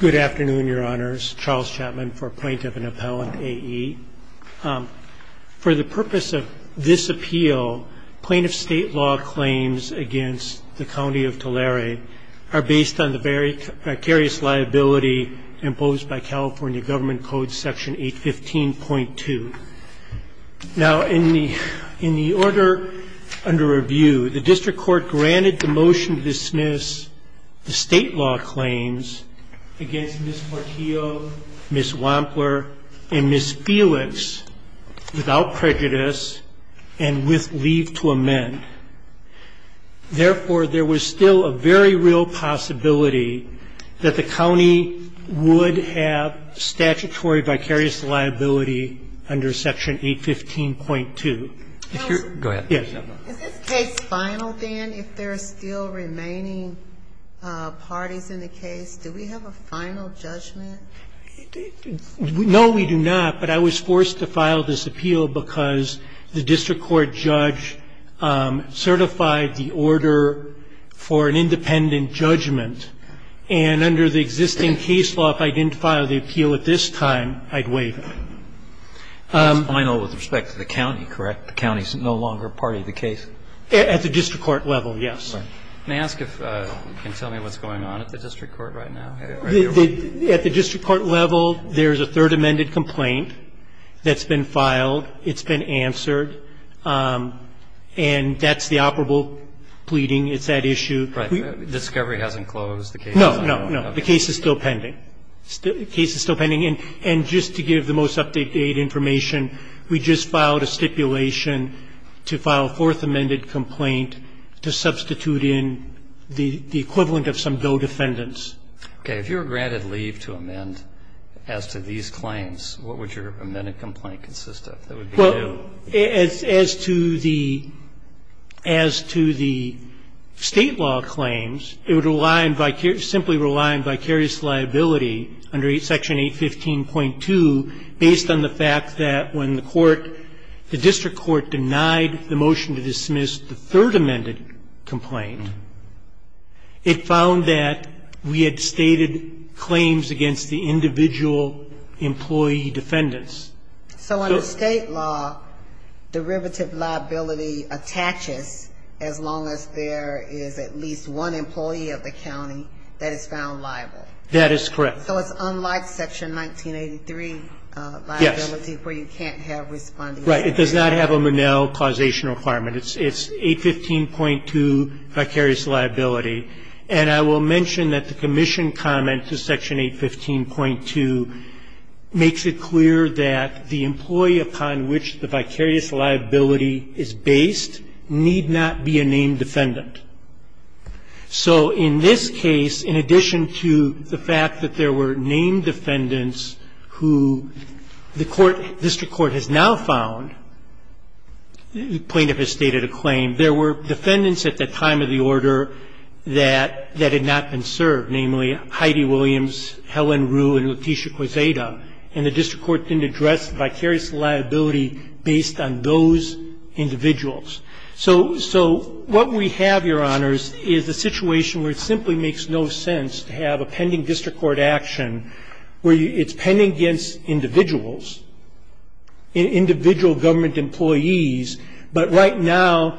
Good afternoon, your honors. Charles Chapman for Plaintiff and Appellant AE. For the purpose of this appeal, plaintiff state law claims against the County of Tulare are based on the very precarious liability imposed by California Government Code section 815.2. Now in the in the order under review, the Ms. Portillo, Ms. Wampler, and Ms. Felix without prejudice and with leave to amend. Therefore, there was still a very real possibility that the county would have statutory vicarious liability under section 815.2. Go ahead, Ms. Chapman. Is this case final, then, if there are still remaining parties in the case? Do we have a final judgment? No, we do not, but I was forced to file this appeal because the district court judge certified the order for an independent judgment. And under the existing case law, if I didn't file the appeal at this time, I'd waive it. It's final with respect to the county, correct? The county's no longer a party to the case? At the district court level, yes. May I ask if you can tell me what's going on at the district court right now? At the district court level, there's a third amended complaint that's been filed. It's been answered. And that's the operable pleading. It's that issue. Right. Discovery hasn't closed. No, no, no. The case is still pending. The case is still pending. And just to give the most up-to-date information, we just filed a stipulation to file a fourth amended complaint to substitute in the equivalent of some bill defendants. Okay. If you were granted leave to amend as to these claims, what would your amended complaint consist of? Well, as to the state law claims, it would simply rely on vicarious liability under Section 815.2, based on the fact that when the district court denied the motion to dismiss the third amended complaint, it found that we had stated claims against the individual employee defendants. So under state law, derivative liability attaches as long as there is at least one employee of the county that is found liable. That is correct. So it's unlike Section 1983 liability where you can't have responding. Right. It does not have a Monell causation requirement. It's 815.2, vicarious liability. And I will mention that the commission comment to Section 815.2 makes it clear that the employee upon which the vicarious liability is based need not be a named defendant. So in this case, in addition to the fact that there were named defendants who the district court has now found, the plaintiff has stated a claim, there were defendants at the time of the order that had not been served, namely Heidi Williams, Helen Rue, and Letitia Quezada. And the district court didn't address vicarious liability based on those individuals. So what we have, Your Honors, is a situation where it simply makes no sense to have a pending district court action where it's pending against individuals, individual government employees, but right now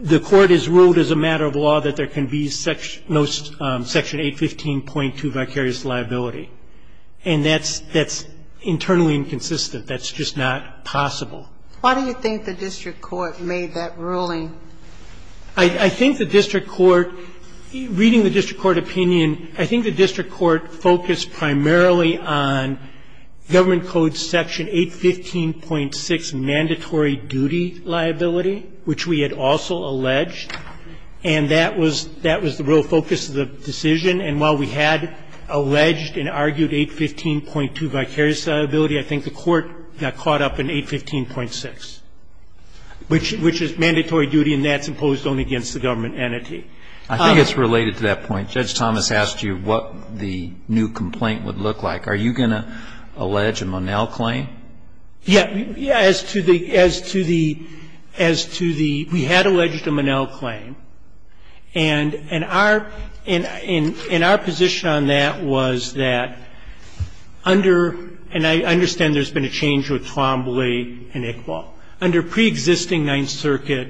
the court has ruled as a matter of law that there can be no Section 815.2 vicarious liability. And that's internally inconsistent. That's just not possible. Why do you think the district court made that ruling? I think the district court, reading the district court opinion, I think the district court focused primarily on Government Code Section 815.6 mandatory duty liability, which we had also alleged. And that was the real focus of the decision. And while we had alleged and argued 815.2 vicarious liability, I think the court got caught up in 815.6, which is mandatory duty and that's imposed only against the government entity. I think it's related to that point. Judge Thomas asked you what the new complaint would look like. Are you going to allege a Monell claim? Yeah. As to the we had alleged a Monell claim. And our position on that was that under, and I understand there's been a change with Twombly and Iqbal. Under preexisting Ninth Circuit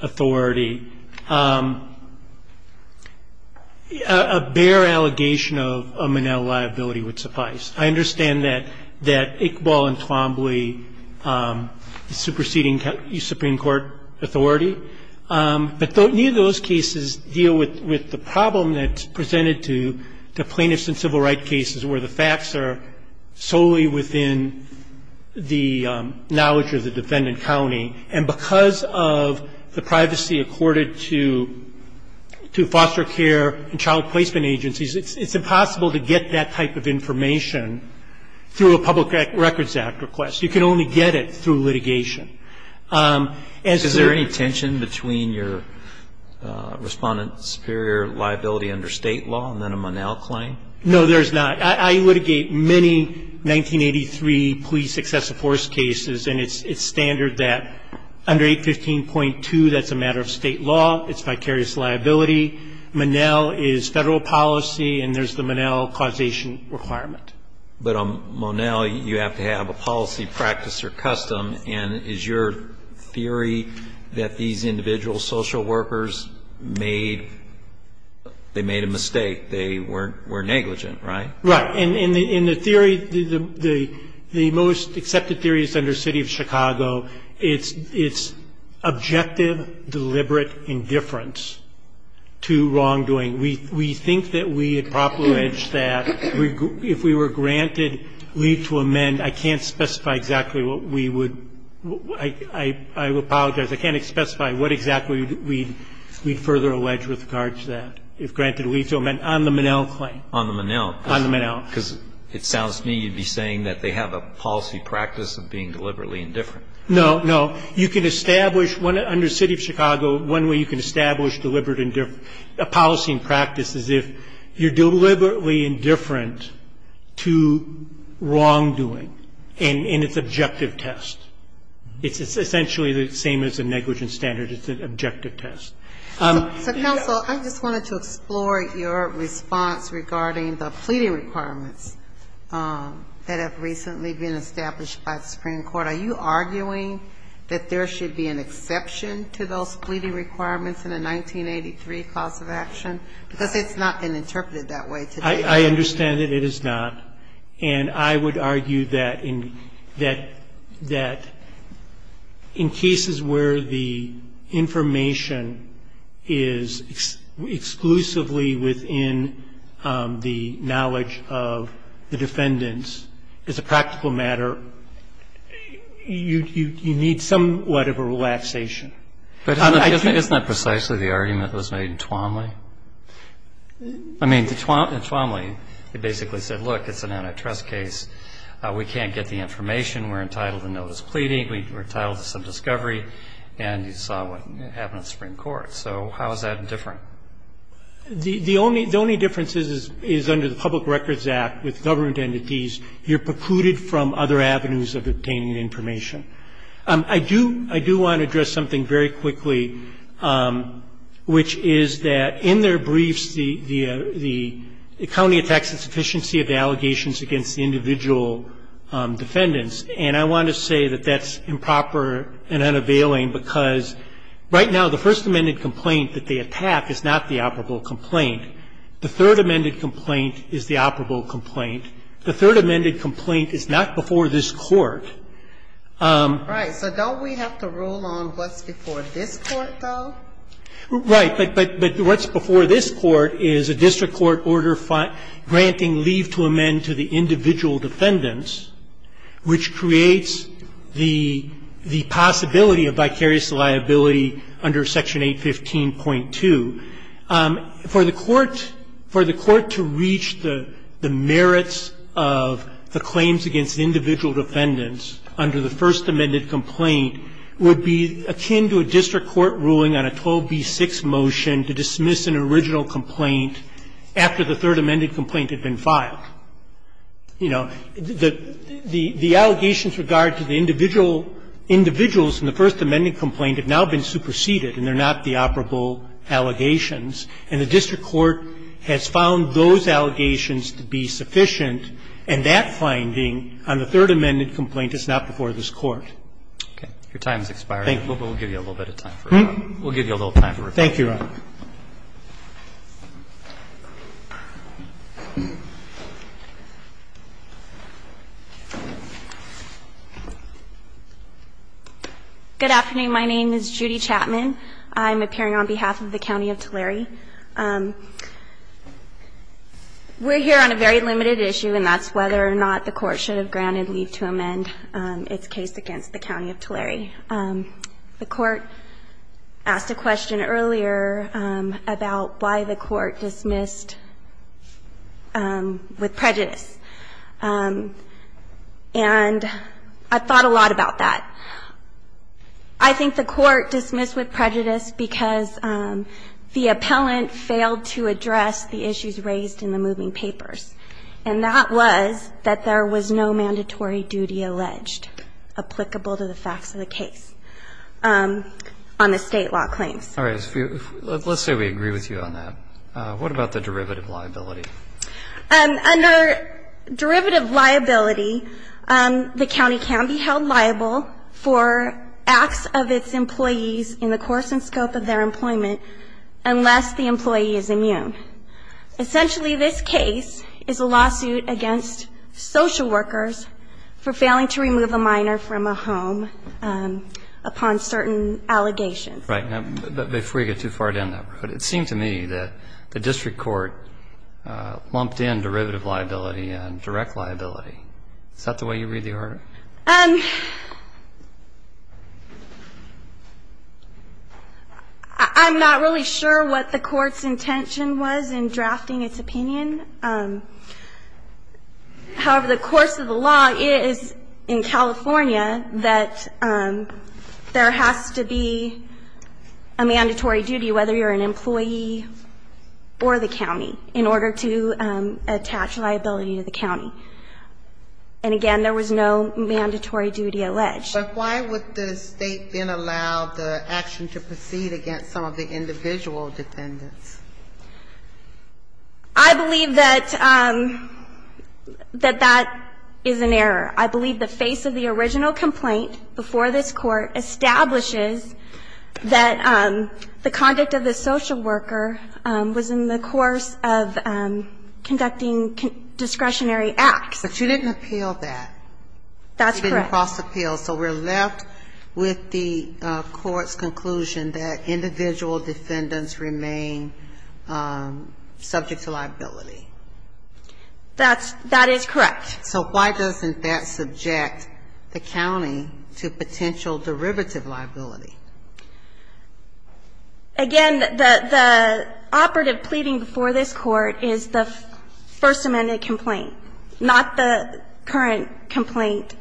authority, a bare allegation of Monell liability would suffice. I understand that Iqbal and Twombly superseding Supreme Court authority. But neither of those cases deal with the problem that's presented to plaintiffs where the facts are solely within the knowledge of the defendant county. And because of the privacy accorded to foster care and child placement agencies, it's impossible to get that type of information through a Public Records Act request. You can only get it through litigation. Is there any tension between your Respondent Superior liability under State law and then a Monell claim? No, there's not. I litigate many 1983 police excessive force cases, and it's standard that under 815.2 that's a matter of State law. It's vicarious liability. Monell is Federal policy, and there's the Monell causation requirement. But on Monell, you have to have a policy, practice, or custom. And is your theory that these individual social workers made a mistake? They were negligent, right? Right. In the theory, the most accepted theory is under City of Chicago. It's objective, deliberate indifference to wrongdoing. We think that we had properly alleged that if we were granted leave to amend, I can't specify exactly what we would – I apologize. I can't specify what exactly we'd further allege with regards to that. If granted leave to amend on the Monell claim. On the Monell. On the Monell. Because it sounds to me you'd be saying that they have a policy practice of being deliberately indifferent. No, no. You can establish under City of Chicago one way you can establish deliberate indifference, a policy and practice as if you're deliberately indifferent to wrongdoing, and it's an objective test. It's essentially the same as a negligence standard. It's an objective test. So, counsel, I just wanted to explore your response regarding the pleading requirements that have recently been established by the Supreme Court. Are you arguing that there should be an exception to those pleading requirements in the 1983 cause of action? Because it's not been interpreted that way today. I understand that it is not. And I would argue that in cases where the information is exclusively within the knowledge of the defendants as a practical matter, you need somewhat of a relaxation. But isn't that precisely the argument that was made in Twanley? I mean, in Twanley, they basically said, look, it's an antitrust case. We can't get the information. We're entitled to notice of pleading. We're entitled to some discovery. And you saw what happened at the Supreme Court. So how is that indifferent? The only difference is under the Public Records Act with government entities, you're precluded from other avenues of obtaining information. I do want to address something very quickly, which is that in their briefs, the county attacks the sufficiency of the allegations against the individual defendants. And I want to say that that's improper and unavailing because right now the first amended complaint that they attack is not the operable complaint. The third amended complaint is the operable complaint. The third amended complaint is not before this Court. Right. So don't we have to rule on what's before this Court, though? Right. But what's before this Court is a district court order granting leave to amend to the individual defendants, which creates the possibility of vicarious liability under Section 815.2. For the Court to reach the merits of the claims against individual defendants, under the first amended complaint, would be akin to a district court ruling on a 12b6 motion to dismiss an original complaint after the third amended complaint had been filed. You know, the allegations with regard to the individual individuals in the first amended complaint have now been superseded and they're not the operable allegations, and the district court has found those allegations to be sufficient, and that finding on the third amended complaint is not before this Court. Okay. Your time is expiring. We'll give you a little bit of time. We'll give you a little time for rebuttal. Thank you, Your Honor. Good afternoon. My name is Judy Chapman. I'm appearing on behalf of the County of Tulare. We're here on a very limited issue, and that's whether or not the Court should have granted leave to amend its case against the County of Tulare. The Court asked a question earlier about why the Court dismissed with prejudice, and I thought a lot about that. I think the Court dismissed with prejudice because the appellant failed to address the issues raised in the moving papers, and that was that there was no mandatory duty alleged applicable to the facts of the case on the State law claims. All right. Let's say we agree with you on that. What about the derivative liability? Under derivative liability, the county can be held liable for acts of its employees in the course and scope of their employment unless the employee is immune. Essentially, this case is a lawsuit against social workers for failing to remove a minor from a home upon certain allegations. Right. Before you get too far down that road, it seemed to me that the district court lumped in derivative liability and direct liability. Is that the way you read the order? I'm not really sure what the Court's intention was in drafting its opinion. However, the course of the law is in California that there has to be a mandatory duty, whether you're an employee or the county, in order to attach liability to the county. And again, there was no mandatory duty alleged. But why would the State then allow the action to proceed against some of the individual defendants? I believe that that is an error. I believe the face of the original complaint before this Court establishes that the conduct of the social worker was in the course of conducting discretionary acts. But you didn't appeal that. That's correct. You didn't cross-appeal. So we're left with the Court's conclusion that individual defendants remain subject to liability. That is correct. So why doesn't that subject the county to potential derivative liability? Again, the operative pleading before this Court is the First Amendment complaint, not the current complaint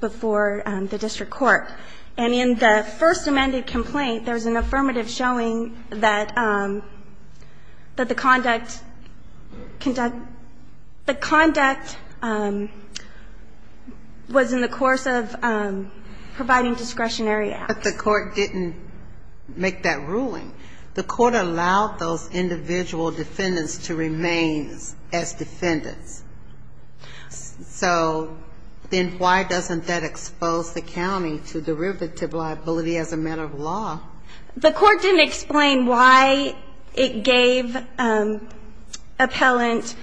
before the district court. And in the First Amendment complaint, there's an affirmative showing that the conduct was in the course of providing discretionary acts. But the Court didn't make that ruling. The Court allowed those individual defendants to remain as defendants. So then why doesn't that expose the county to derivative liability as a matter of law? The Court didn't explain why it gave appellant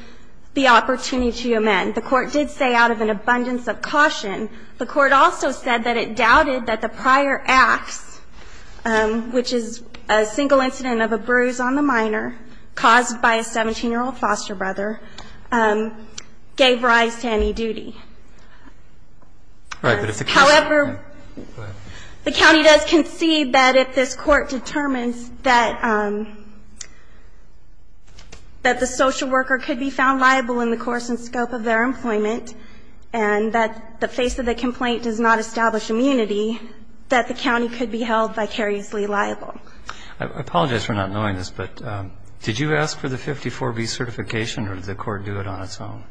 the opportunity to amend. The Court did say out of an abundance of caution. The Court also said that it doubted that the prior acts, which is a single incident of a bruise on the minor caused by a 17-year-old foster brother, gave rise to any duty. However, the county does concede that if this Court determines that the social worker could be found liable in the course and scope of their employment and that the face of the complaint does not establish immunity, that the county could be held vicariously liable. I apologize for not knowing this, but did you ask for the 54B certification or did the Court do it on its own?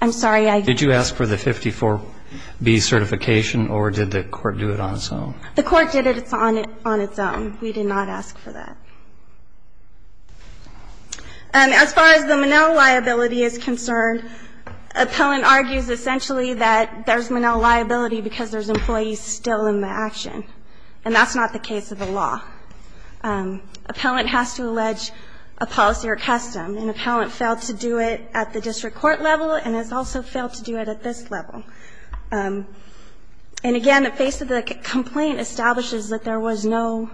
I'm sorry. Did you ask for the 54B certification or did the Court do it on its own? The Court did it on its own. We did not ask for that. As far as the Monell liability is concerned, appellant argues essentially that there's no Monell liability because there's employees still in the action. And that's not the case of the law. Appellant has to allege a policy or custom. An appellant failed to do it at the district court level and has also failed to do it at this level. And again, the face of the complaint establishes that there was no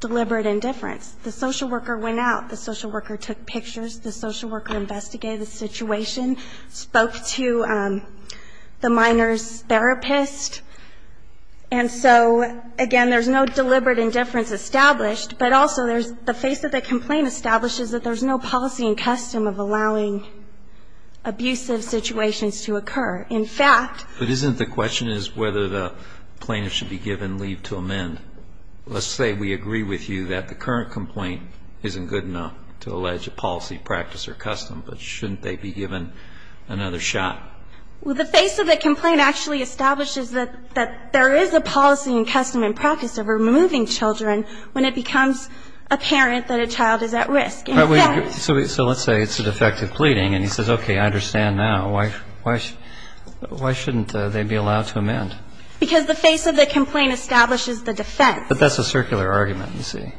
deliberate indifference. The social worker went out. The social worker took pictures. The social worker investigated the situation. Spoke to the minor's therapist. And so, again, there's no deliberate indifference established, but also there's the face of the complaint establishes that there's no policy and custom of allowing abusive situations to occur. In fact, But isn't the question is whether the plaintiff should be given leave to amend. Let's say we agree with you that the current complaint isn't good enough to allege a policy, practice, or custom. But shouldn't they be given another shot? Well, the face of the complaint actually establishes that there is a policy and custom and practice of removing children when it becomes apparent that a child is at risk. So let's say it's a defective pleading and he says, okay, I understand now. Why shouldn't they be allowed to amend? Because the face of the complaint establishes the defense. But that's a circular argument, you see.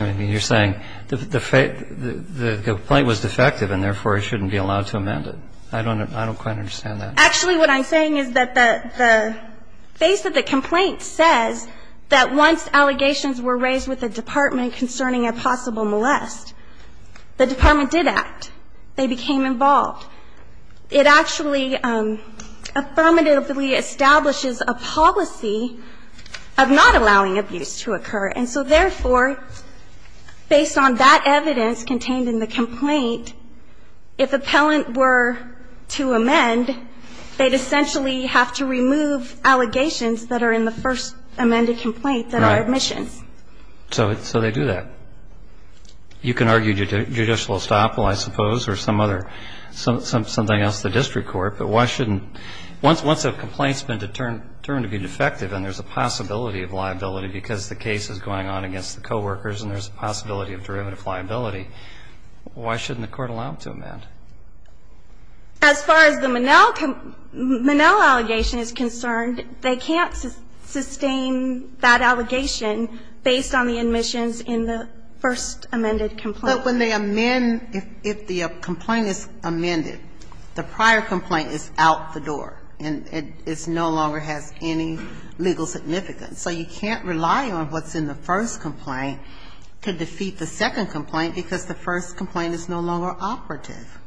I mean, you're saying the complaint was defective and, therefore, he shouldn't be allowed to amend it. I don't quite understand that. Actually, what I'm saying is that the face of the complaint says that once allegations were raised with the department concerning a possible molest, the department did act. They became involved. It actually affirmatively establishes a policy of not allowing abuse to occur. And so, therefore, based on that evidence contained in the complaint, if appellant were to amend, they'd essentially have to remove allegations that are in the first amended complaint that are admissions. Right. So they do that. You can argue judicial estoppel, I suppose, or something else, the district court. But why shouldn't, once a complaint's been determined to be defective and there's a possibility of liability because the case is going on against the coworkers and there's a possibility of derivative liability, why shouldn't the court allow them to amend? As far as the Monell allegation is concerned, they can't sustain that allegation based on the admissions in the first amended complaint. But when they amend, if the complaint is amended, the prior complaint is out the door and it no longer has any legal significance. So you can't rely on what's in the first complaint to defeat the second complaint because the first complaint is no longer operative.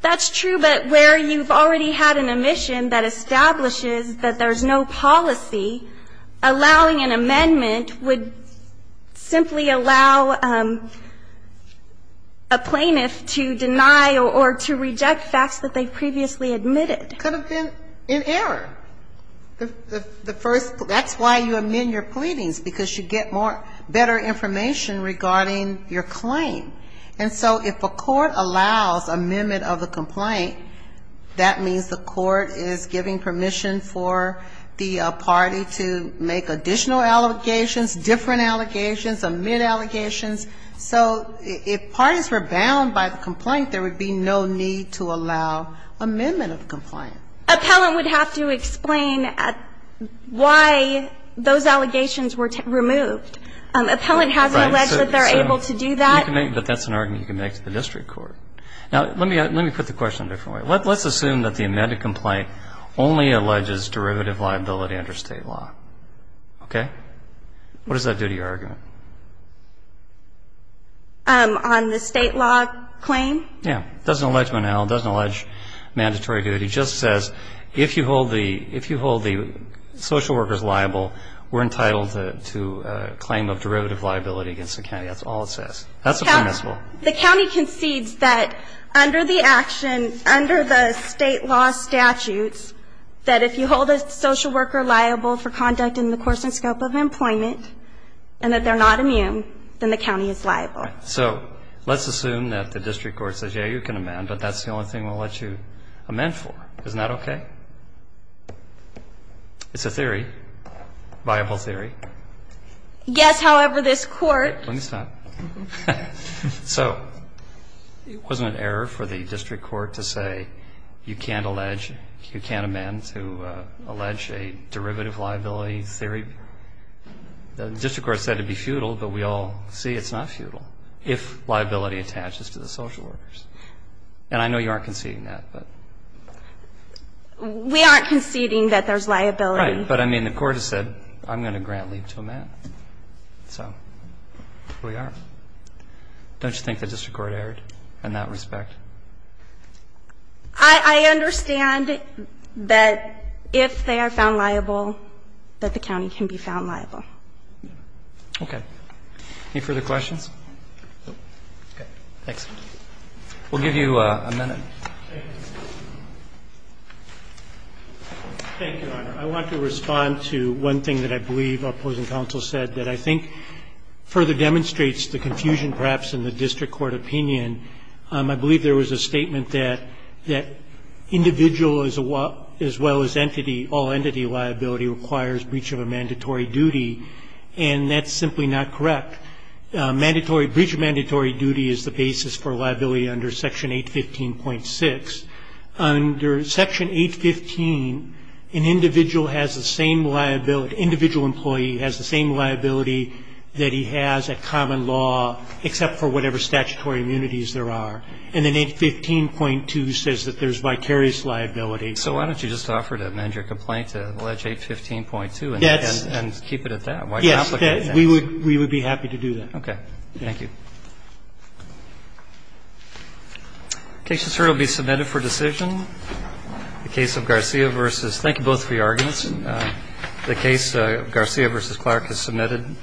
That's true, but where you've already had an admission that establishes that there's no policy, allowing an amendment would simply allow a plaintiff to deny or to reject facts that they previously admitted. It could have been in error. The first, that's why you amend your pleadings, because you get more, better information regarding your claim. And so if a court allows amendment of a complaint, that means the court is giving permission for the party to make additional allegations, different allegations, amend allegations. So if parties were bound by the complaint, there would be no need to allow amendment of the complaint. Appellant would have to explain why those allegations were removed. Appellant hasn't alleged that they're able to do that. But that's an argument you can make to the district court. Now, let me put the question a different way. Let's assume that the amended complaint only alleges derivative liability under State law. Okay? What does that do to your argument? On the State law claim? Yeah. It doesn't allege Monell. It doesn't allege mandatory duty. It just says if you hold the social workers liable, we're entitled to claim of derivative liability against the county. That's all it says. That's permissible. The county concedes that under the action, under the State law statutes, that if you hold a social worker liable for conduct in the course and scope of employment and that they're not immune, then the county is liable. So let's assume that the district court says, yeah, you can amend, but that's the only thing we'll let you amend for. Isn't that okay? It's a theory, viable theory. Yes, however, this Court Let me stop. So it wasn't an error for the district court to say you can't allege, you can't amend to allege a derivative liability theory. The district court said it would be futile, but we all see it's not futile if liability attaches to the social workers. And I know you aren't conceding that, but. We aren't conceding that there's liability. Right. But, I mean, the court has said I'm going to grant leave to amend. So here we are. Don't you think the district court erred in that respect? I understand that if they are found liable, that the county can be found liable. Okay. Any further questions? No. Okay. Thanks. We'll give you a minute. Thank you, Your Honor. I want to respond to one thing that I believe our opposing counsel said that I think further demonstrates the confusion perhaps in the district court opinion. I believe there was a statement that individual as well as entity, all entity liability requires breach of a mandatory duty. And that's simply not correct. Mandatory, breach of mandatory duty is the basis for liability under Section 815.6. Under Section 815, an individual has the same liability, individual employee has the same liability that he has at common law, except for whatever statutory immunities there are. And then 815.2 says that there's vicarious liability. So why don't you just offer to amend your complaint to allege 815.2 and keep it at that? Yes. We would be happy to do that. Okay. Thank you. The case will be submitted for decision. The case of Garcia v. Thank you both for your arguments. The case of Garcia v. Clark is submitted.